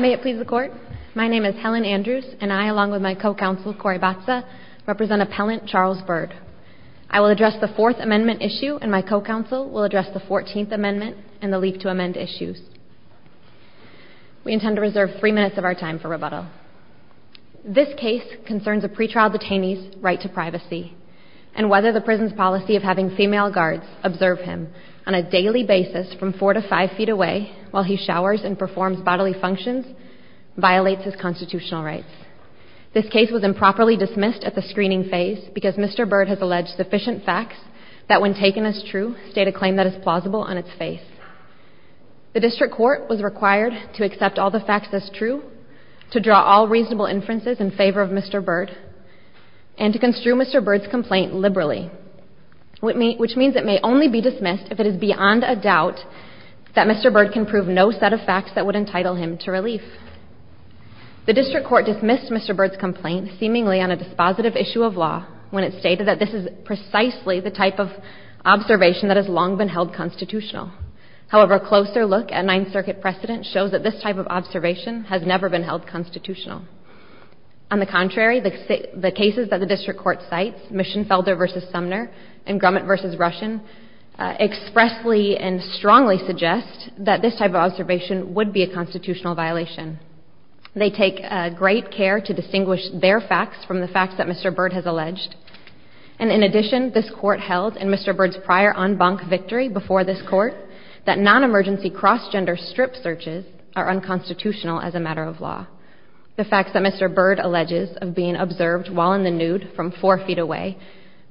May it please the court, my name is Helen Andrews and I, along with my co-counsel Cory Batza, represent appellant Charles Byrd. I will address the Fourth Amendment issue and my co-counsel will address the Fourteenth Amendment and the Leave to Amend issues. We intend to reserve three minutes of our time for rebuttal. This case concerns a pretrial detainee's right to privacy and whether the prison's policy of having female guards observe him on a daily basis from four to five feet away while he showers and performs bodily functions violates his constitutional rights. This case was improperly dismissed at the screening phase because Mr. Byrd has alleged sufficient facts that when taken as true state a claim that is plausible on its face. The district court was required to accept all the facts as true, to draw all reasonable inferences in favor of Mr. Byrd, and to construe Mr. Byrd's complaint liberally, which means it may only be dismissed if it is beyond a doubt that Mr. Byrd can prove no set of facts that would entitle him to relief. The district court dismissed Mr. Byrd's complaint seemingly on a dispositive issue of law when it stated that this is precisely the type of observation that has long been held constitutional. However, a closer look at Ninth Circuit precedent shows that this type of observation has never been held constitutional. On the contrary, the cases that the district court cites, Mischenfelder v. Sumner and Grumman v. Russian, expressly and strongly suggest that this type of observation would be a constitutional violation. They take great care to distinguish their facts from the facts that Mr. Byrd has alleged. And in addition, this court held in Mr. Byrd's prior en banc victory before this court that non-emergency cross-gender strip searches are unconstitutional as a matter of law. The facts that Mr. Byrd alleges of being observed while in the nude from four feet away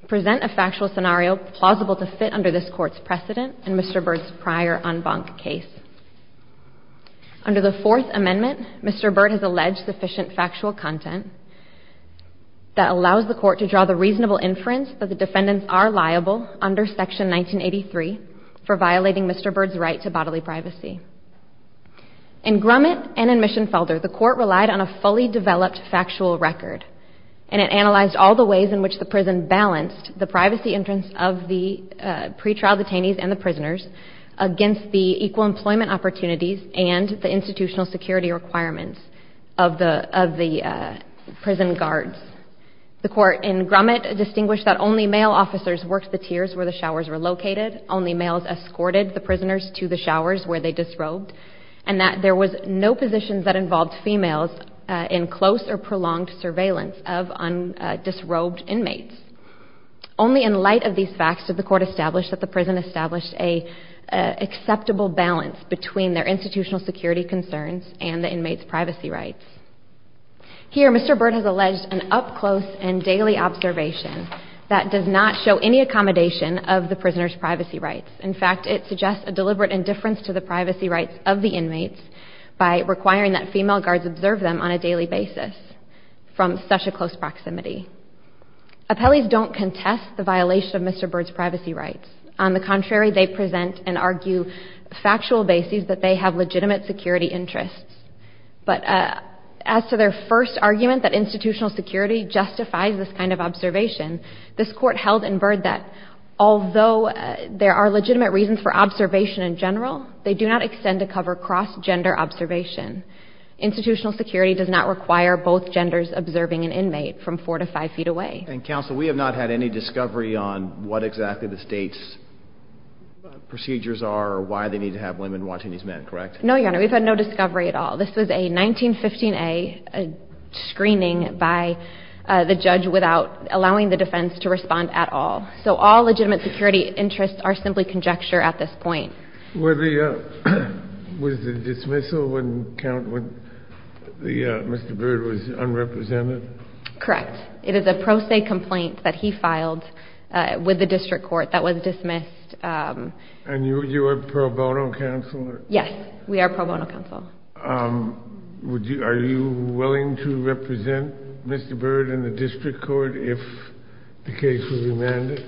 present a factual scenario plausible to fit under this court's precedent in Mr. Byrd's prior en banc case. Under the Fourth Amendment, Mr. Byrd has alleged sufficient factual content that allows the court to draw the reasonable inference that the defendants are liable under Section 1983 for violating Mr. Byrd's right to bodily privacy. In Grumman and in Mischenfelder, the court relied on a fully developed factual record and it analyzed all the ways in which the prison balanced the privacy entrance of the pretrial detainees and the prisoners against the equal employment opportunities and the institutional security requirements of the prison guards. The court in Grumman distinguished that only male officers worked the tiers where the showers were located. Only males escorted the prisoners to the showers where they disrobed. And that there was no positions that involved females in close or prolonged surveillance of disrobed inmates. Only in light of these facts did the court establish that the prison established an acceptable balance between their institutional security concerns and the inmates' privacy rights. Here, Mr. Byrd has alleged an up-close and daily observation that does not show any accommodation of the prisoners' privacy rights. In fact, it suggests a deliberate indifference to the privacy rights of the inmates by requiring that female guards observe them on a daily basis from such a close proximity. Appellees don't contest the violation of Mr. Byrd's privacy rights. On the contrary, they present and argue factual bases that they have legitimate security interests. But as to their first argument that institutional security justifies this kind of observation, this court held in Byrd that although there are legitimate reasons for observation in general, they do not extend to cover cross-gender observation. Institutional security does not require both genders observing an inmate from four to five feet away. And counsel, we have not had any discovery on what exactly the state's procedures are or why they need to have women watching these men, correct? No, Your Honor, we've had no discovery at all. This was a 1915A screening by the judge without allowing the defense to respond at all. So all legitimate security interests are simply conjecture at this point. Was the dismissal when Mr. Byrd was unrepresented? Correct. It is a pro se complaint that he filed with the district court that was dismissed. And you were pro bono counselor? Yes, we are pro bono counselor. Are you willing to represent Mr. Byrd in the district court if the case was remanded?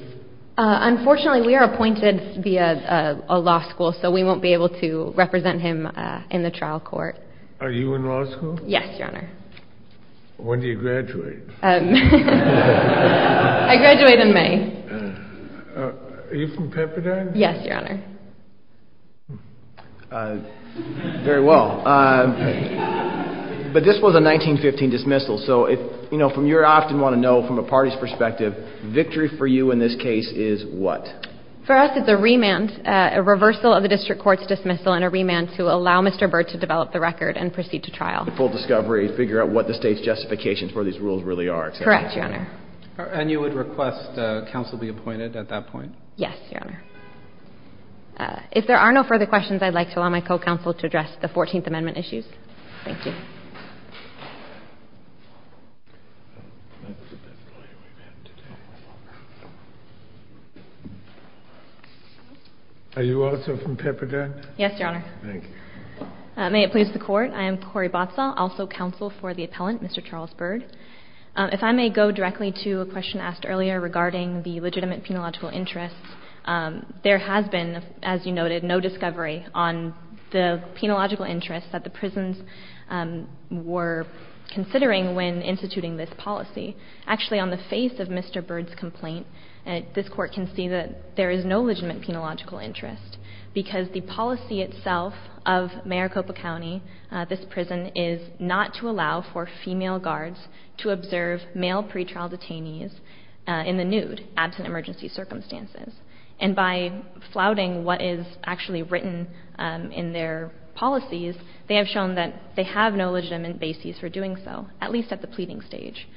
Unfortunately, we are appointed via a law school, so we won't be able to represent him in the trial court. Are you in law school? Yes, Your Honor. When do you graduate? I graduate in May. Are you from Pepperdine? Yes, Your Honor. Very well. But this was a 1915 dismissal, so if, you know, you often want to know from a party's perspective, victory for you in this case is what? For us it's a remand, a reversal of the district court's dismissal and a remand to allow Mr. Byrd to develop the record and proceed to trial. The full discovery, figure out what the state's justification for these rules really are. Correct, Your Honor. And you would request counsel be appointed at that point? Yes, Your Honor. If there are no further questions, I'd like to allow my co-counsel to address the 14th Amendment issues. Thank you. Are you also from Pepperdine? Yes, Your Honor. Thank you. May it please the Court, I am Cori Botzel, also counsel for the appellant, Mr. Charles Byrd. If I may go directly to a question asked earlier regarding the legitimate penological interests, there has been, as you noted, no discovery on the penological interests that the prisons were considering when instituting this policy. Actually, on the face of Mr. Byrd's complaint, this Court can see that there is no legitimate penological interest because the policy itself of Maricopa County, this prison, is not to allow for female guards to observe male pretrial detainees in the nude, absent emergency circumstances. And by flouting what is actually written in their policies, they have shown that they have no legitimate basis for doing so, at least at the pleading stage.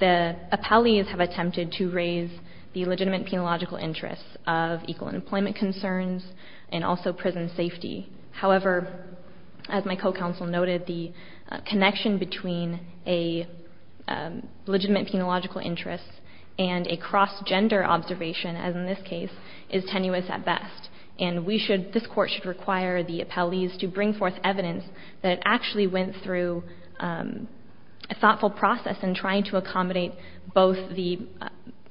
The appellees have attempted to raise the legitimate penological interests of equal employment concerns and also prison safety. However, as my co-counsel noted, the connection between a legitimate penological interest and a cross-gender observation, as in this case, is tenuous at best. And we should, this Court should require the appellees to bring forth evidence that actually went through a thoughtful process in trying to accommodate both the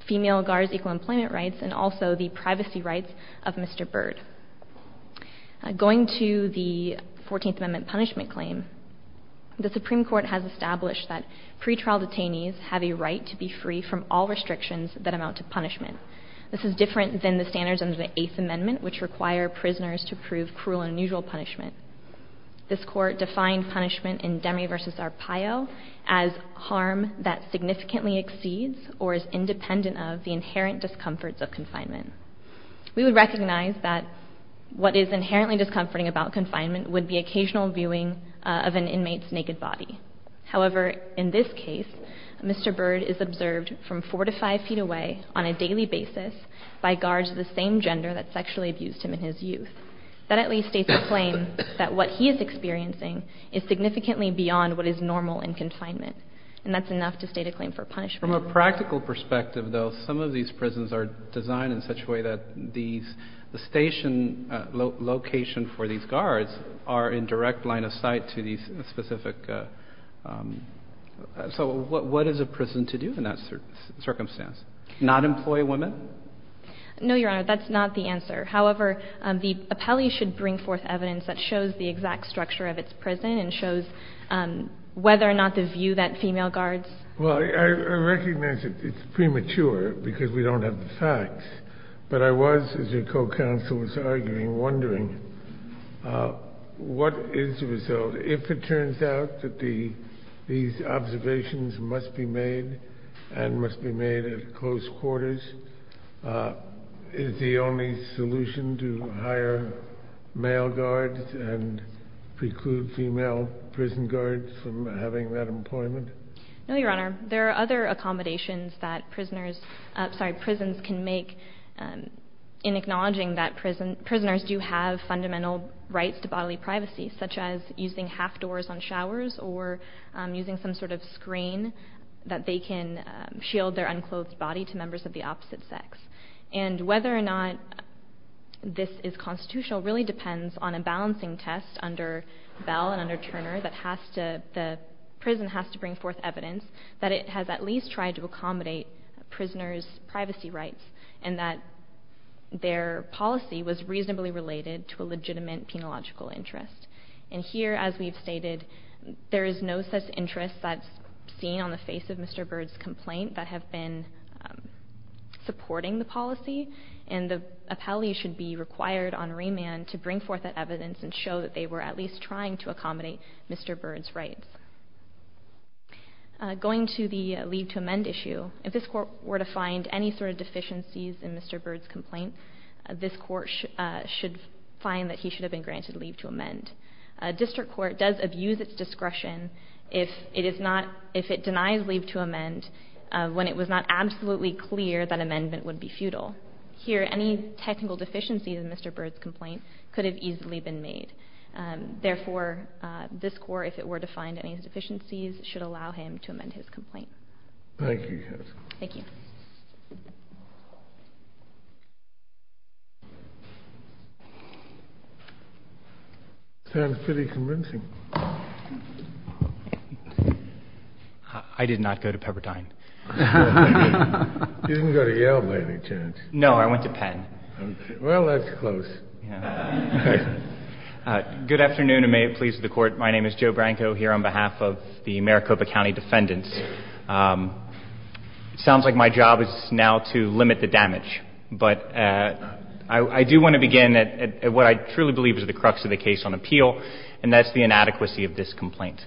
female guards' equal employment rights and also the privacy rights of Mr. Byrd. Going to the Fourteenth Amendment punishment claim, the Supreme Court has established that pretrial detainees have a right to be free from all restrictions that amount to punishment. This is different than the standards under the Eighth Amendment, which require prisoners to prove cruel and unusual punishment. This Court defined punishment in Demme v. Arpaio as harm that significantly exceeds or is independent of the inherent discomforts of confinement. We would recognize that what is inherently discomforting about confinement would be occasional viewing of an inmate's naked body. However, in this case, Mr. Byrd is observed from four to five feet away on a daily basis by guards of the same gender that sexually abused him in his youth. That at least states a claim that what he is experiencing is significantly beyond what is normal in confinement. And that's enough to state a claim for punishment. From a practical perspective, though, some of these prisons are designed in such a way that the station location for these guards are in direct line of sight to these specific... So what is a prison to do in that circumstance? Not employ women? No, Your Honor, that's not the answer. However, the appellee should bring forth evidence that shows the exact structure of its prison and shows whether or not the view that female guards... Well, I recognize it's premature because we don't have the facts. But I was, as your co-counsel was arguing, wondering what is the result? If it turns out that these observations must be made and must be made at close quarters, is the only solution to hire male guards and preclude female prison guards from having that employment? No, Your Honor. There are other accommodations that prisons can make in acknowledging that prisoners do have fundamental rights to bodily privacy, such as using half doors on showers or using some sort of screen that they can shield their unclothed body to members of the opposite sex. And whether or not this is constitutional really depends on a balancing test under Bell and under Turner that the prison has to bring forth evidence that it has at least tried to accommodate prisoners' privacy rights and that their policy was reasonably related to a legitimate penological interest. And here, as we've stated, there is no such interest that's seen on the face of Mr. Byrd's complaint that have been supporting the policy, and the appellee should be required on remand to bring forth that evidence and show that they were at least trying to accommodate Mr. Byrd's rights. Going to the leave to amend issue, if this Court were to find any sort of deficiencies in Mr. Byrd's complaint, this Court should find that he should have been granted leave to amend. A district court does abuse its discretion if it denies leave to amend when it was not absolutely clear that amendment would be futile. Here, any technical deficiencies in Mr. Byrd's complaint could have easily been made. Therefore, this Court, if it were to find any deficiencies, should allow him to amend his complaint. Thank you, counsel. Thank you. Sounds pretty convincing. I did not go to Pepperdine. You didn't go to Yale, by any chance? No, I went to Penn. Well, that's close. Good afternoon, and may it please the Court. My name is Joe Branco, here on behalf of the Maricopa County defendants. It sounds like my job is now to limit the damage, but I do want to begin at what I truly believe is the crux of the case on appeal, and that's the inadequacy of this complaint.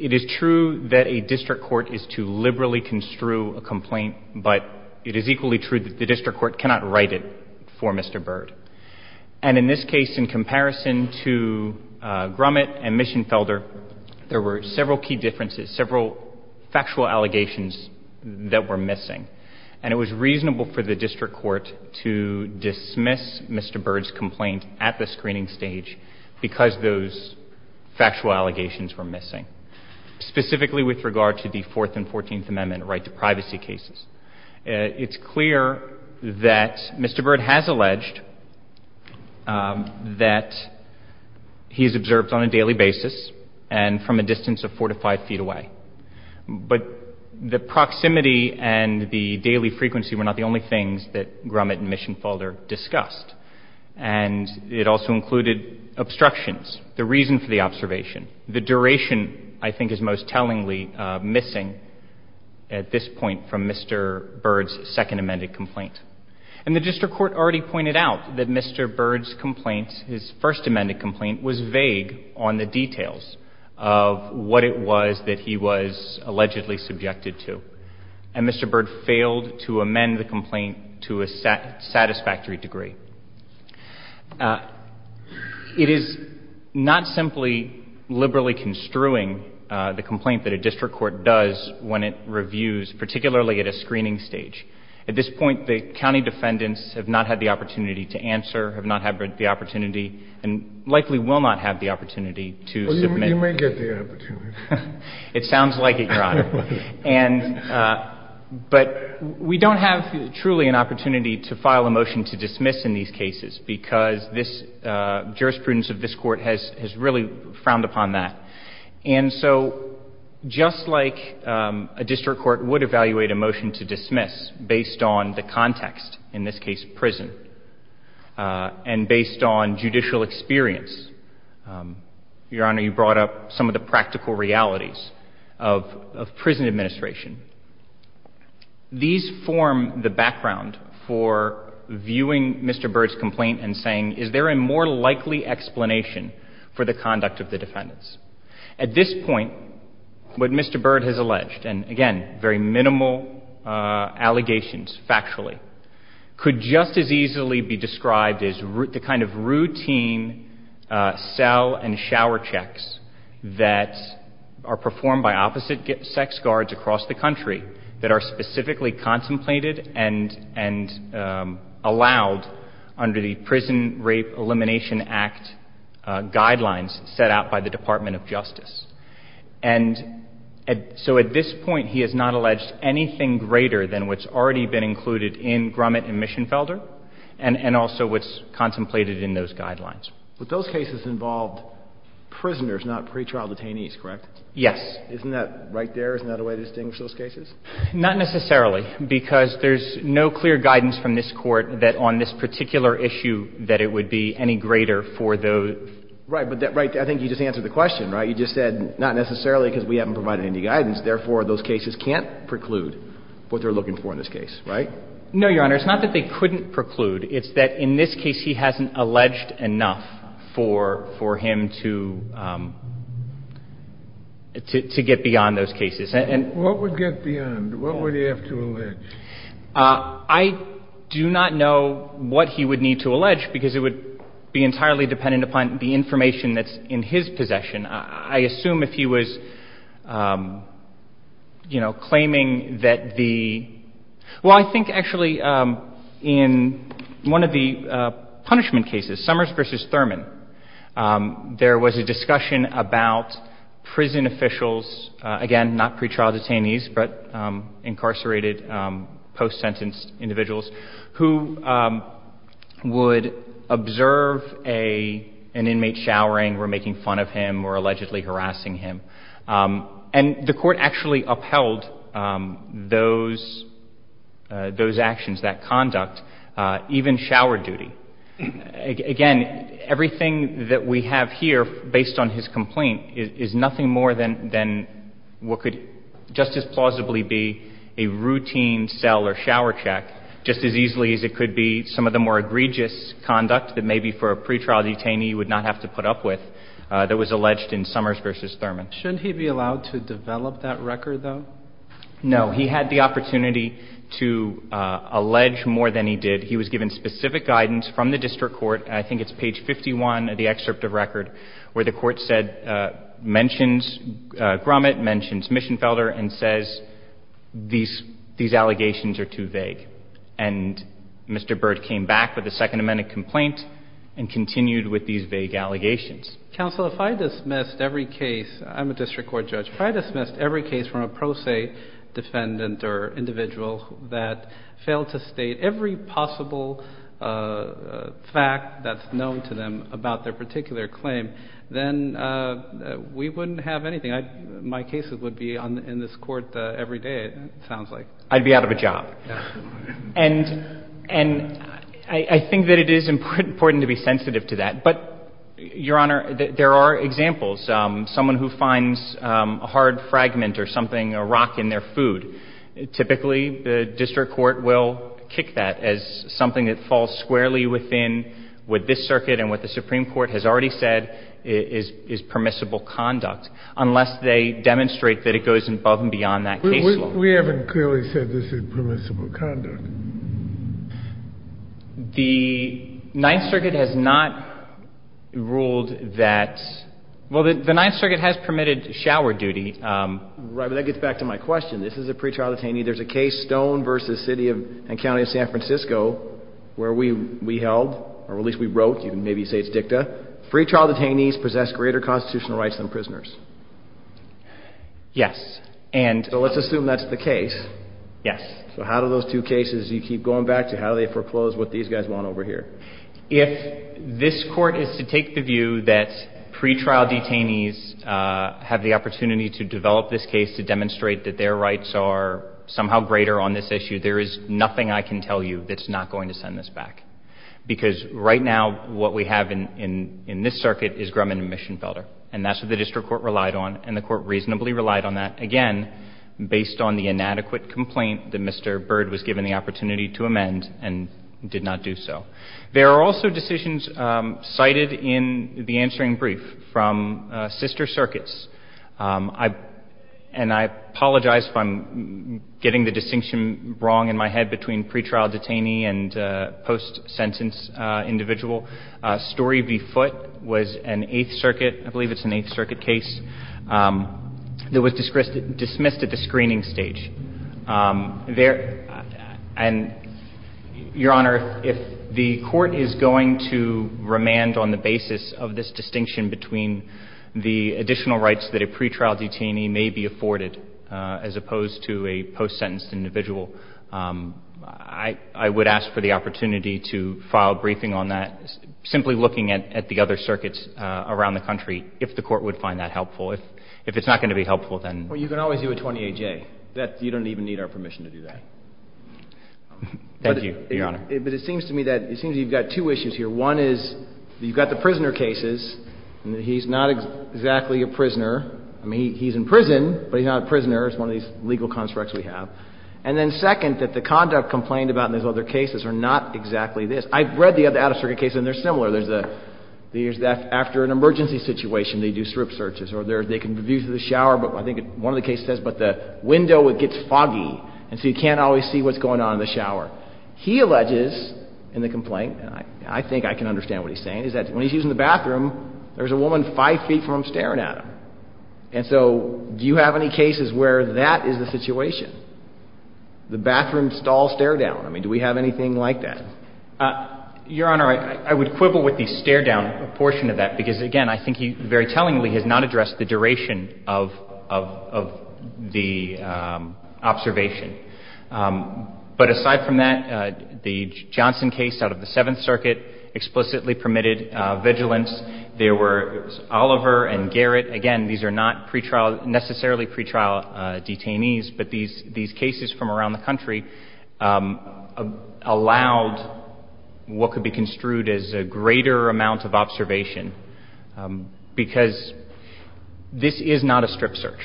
It is true that a district court is to liberally construe a complaint, but it is equally true that the district court cannot write it for Mr. Byrd. And in this case, in comparison to Grumman and Mischenfelder, there were several key differences, several factual allegations that were missing, and it was reasonable for the district court to dismiss Mr. Byrd's complaint at the screening stage because those factual allegations were missing, specifically with regard to the Fourth and Fourteenth Amendment right to privacy cases. It's clear that Mr. Byrd has alleged that he is observed on a daily basis and from a distance of four to five feet away, but the proximity and the daily frequency were not the only things that Grumman and Mischenfelder discussed, and it also included obstructions, the reason for the observation, the duration I think is most tellingly missing at this point from Mr. Byrd's second amended complaint. And the district court already pointed out that Mr. Byrd's complaint, his first amended complaint, was vague on the details of what it was that he was allegedly subjected to, and Mr. Byrd failed to amend the complaint to a satisfactory degree. It is not simply liberally construing the complaint that a district court does when it reviews, particularly at a screening stage. At this point, the county defendants have not had the opportunity to answer, have not had the opportunity, and likely will not have the opportunity to submit. It sounds like it, Your Honor. But we don't have truly an opportunity to file a motion to dismiss in these cases because this jurisprudence of this Court has really frowned upon that. And so just like a district court would evaluate a motion to dismiss based on the context, in this case prison, and based on judicial experience, Your Honor, you brought up some of the practical realities of prison administration. These form the background for viewing Mr. Byrd's complaint and saying, is there a more likely explanation for the conduct of the defendants? At this point, what Mr. Byrd has alleged, and again, very minimal allegations factually, could just as easily be described as the kind of routine cell and shower checks that are performed by opposite sex guards across the country that are specifically contemplated and allowed under the Prison Rape Elimination Act guidelines And so at this point, he has not alleged anything greater than what's already been included in Grumman and Mischenfelder and also what's contemplated in those guidelines. But those cases involved prisoners, not pretrial detainees, correct? Yes. Isn't that right there? Isn't that a way to distinguish those cases? Not necessarily, because there's no clear guidance from this Court that on this particular issue that it would be any greater for those. Right. But I think you just answered the question, right? You just said not necessarily because we haven't provided any guidance. Therefore, those cases can't preclude what they're looking for in this case, right? No, Your Honor. It's not that they couldn't preclude. It's that in this case, he hasn't alleged enough for him to get beyond those cases. What would get beyond? What would he have to allege? I do not know what he would need to allege because it would be entirely dependent upon the information that's in his possession. I assume if he was, you know, claiming that the — well, I think actually in one of the punishment cases, Summers v. Thurman, there was a discussion about prison officials, again, not pretrial detainees, but incarcerated, post-sentence individuals, who would observe an inmate showering or making fun of him or allegedly harassing him. And the Court actually upheld those actions, that conduct, even shower duty. Again, everything that we have here based on his complaint is nothing more than what could just as plausibly be a routine cell or shower check, just as easily as it could be some of the more egregious conduct that maybe for a pretrial detainee you would not have to put up with that was alleged in Summers v. Thurman. Shouldn't he be allowed to develop that record, though? No. He had the opportunity to allege more than he did. He was given specific guidance from the district court, and I think it's page 51 of the and says these allegations are too vague. And Mr. Byrd came back with a Second Amendment complaint and continued with these vague allegations. Counsel, if I dismissed every case, I'm a district court judge. If I dismissed every case from a pro se defendant or individual that failed to state every possible fact that's known to them about their particular claim, then we wouldn't have anything. My cases would be in this court every day, it sounds like. I'd be out of a job. And I think that it is important to be sensitive to that. But, Your Honor, there are examples. Someone who finds a hard fragment or something, a rock in their food, typically the district court will kick that as something that falls squarely within what this circuit and what the Supreme Court has already said is permissible conduct. Unless they demonstrate that it goes above and beyond that case law. We haven't clearly said this is permissible conduct. The Ninth Circuit has not ruled that — well, the Ninth Circuit has permitted shower duty. Right. But that gets back to my question. This is a pretrial detainee. There's a case, Stone v. City and County of San Francisco, where we held, or at least we wrote. You can maybe say it's dicta. But pretrial detainees possess greater constitutional rights than prisoners. Yes. And — So let's assume that's the case. Yes. So how do those two cases you keep going back to, how do they foreclose what these guys want over here? If this Court is to take the view that pretrial detainees have the opportunity to develop this case to demonstrate that their rights are somehow greater on this issue, there is nothing I can tell you that's not going to send this back. Because right now what we have in this circuit is Grumman and Mischenfelder. And that's what the district court relied on, and the court reasonably relied on that, again, based on the inadequate complaint that Mr. Byrd was given the opportunity to amend and did not do so. There are also decisions cited in the answering brief from sister circuits. And I apologize if I'm getting the distinction wrong in my head between pretrial detainee and post-sentence individual. Story v. Foote was an Eighth Circuit, I believe it's an Eighth Circuit case, that was dismissed at the screening stage. And, Your Honor, if the Court is going to remand on the basis of this distinction between the additional rights that a pretrial detainee may be afforded as opposed to a post-sentence individual, I would ask for the opportunity to file a briefing on that, simply looking at the other circuits around the country, if the Court would find that helpful. If it's not going to be helpful, then — Well, you can always do a 28-J. You don't even need our permission to do that. Thank you, Your Honor. But it seems to me that you've got two issues here. One is you've got the prisoner cases, and he's not exactly a prisoner. I mean, he's in prison, but he's not a prisoner. It's one of these legal constructs we have. And then, second, that the conduct complained about in his other cases are not exactly this. I've read the other Out-of-Circuit cases, and they're similar. There's the — after an emergency situation, they do strip searches, or they can view through the shower, but I think one of the cases says, but the window, it gets foggy, and so you can't always see what's going on in the shower. He alleges in the complaint, and I think I can understand what he's saying, is that when he's using the bathroom, there's a woman 5 feet from him staring at him. And so do you have any cases where that is the situation, the bathroom stall stare-down? I mean, do we have anything like that? Your Honor, I would quibble with the stare-down portion of that because, again, I think he very tellingly has not addressed the duration of the observation. But aside from that, the Johnson case out of the Seventh Circuit explicitly permitted vigilance. There were Oliver and Garrett. Again, these are not pretrial — necessarily pretrial detainees, but these cases from around the country allowed what could be construed as a greater amount of observation because this is not a strip search.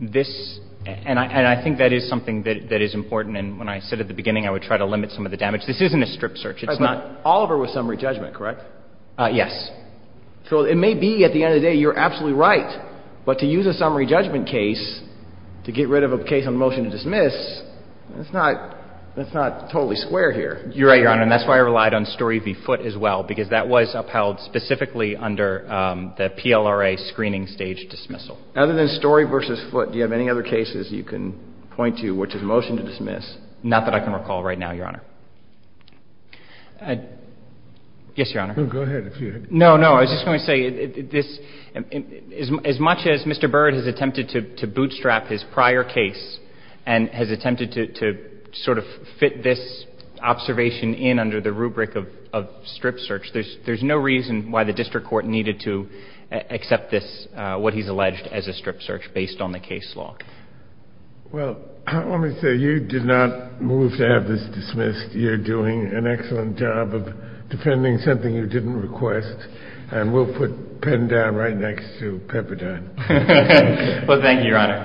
This — and I think that is something that is important, and when I said at the beginning I would try to limit some of the damage. This isn't a strip search. It's not — But Oliver was summary judgment, correct? Yes. So it may be at the end of the day you're absolutely right, but to use a summary judgment case to get rid of a case on motion to dismiss, that's not totally square here. You're right, Your Honor, and that's why I relied on Story v. Foote as well because that was upheld specifically under the PLRA screening stage dismissal. Other than Story v. Foote, do you have any other cases you can point to which is motion to dismiss? Not that I can recall right now, Your Honor. Yes, Your Honor. Go ahead. No, no. I was just going to say, this — as much as Mr. Byrd has attempted to bootstrap his prior case and has attempted to sort of fit this observation in under the rubric of strip search, there's no reason why the district court needed to accept this, what he's alleged as a strip search, based on the case law. Well, let me say, you did not move to have this dismissed. Well, thank you, Your Honor.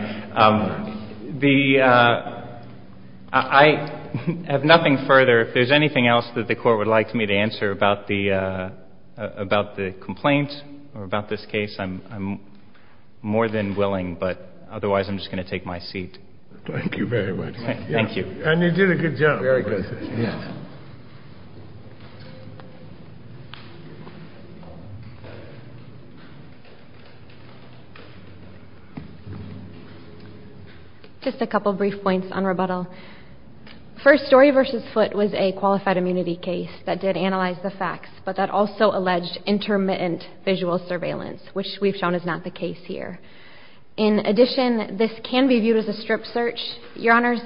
I have nothing further. If there's anything else that the Court would like me to answer about the complaint or about this case, I'm more than willing, but otherwise, I'm just going to take my seat. Thank you very much. Thank you. Thank you. Thank you. Thank you. Thank you. Thank you. Thank you. Just a couple brief points on rebuttal. First, Story v. Foote was a qualified immunity case that did analyze the facts, but that also alleged intermittent visual surveillance, which we've shown is not the case here. In addition, this can be viewed as a strip search. Your Honors,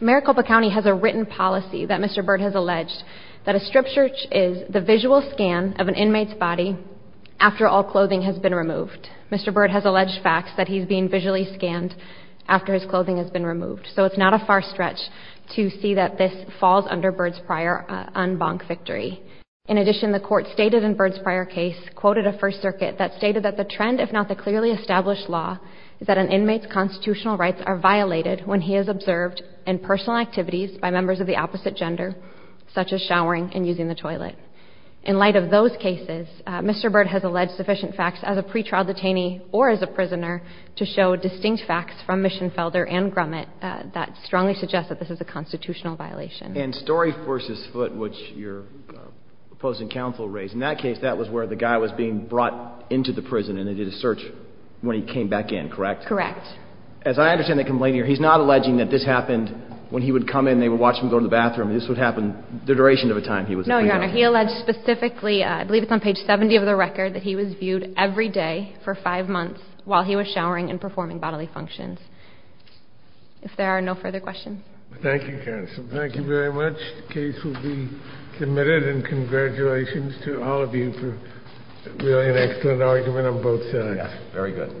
Maricopa County has a written policy that Mr. Byrd has alleged that a strip search is the visual scan of an inmate's body after all clothing has been removed. Mr. Byrd has alleged facts that he's being visually scanned after his clothing has been removed. So it's not a far stretch to see that this falls under Byrd's prior en banc victory. In addition, the Court stated in Byrd's prior case, quoted a First Circuit, that stated that the trend, if not the clearly established law, is that an inmate's constitutional rights are violated when he is observed in personal activities by members of the opposite gender, such as showering and using the toilet. In light of those cases, Mr. Byrd has alleged sufficient facts as a pretrial detainee or as a prisoner to show distinct facts from Mischenfelder and Grumman that strongly suggest that this is a constitutional violation. And Story v. Foote, which your opposing counsel raised, in that case that was where the guy was being brought into the prison and they did a search when he came back in, correct? Correct. As I understand the complaint here, he's not alleging that this happened when he would come in and they would watch him go to the bathroom. This would happen the duration of a time he was in prison. No, Your Honor. He alleged specifically, I believe it's on page 70 of the record, that he was viewed every day for five months while he was showering and performing bodily functions. If there are no further questions. Thank you, counsel. Thank you very much. The case will be submitted. And congratulations to all of you for really an excellent argument on both sides. Yes. Very good. Thank you. Thank you.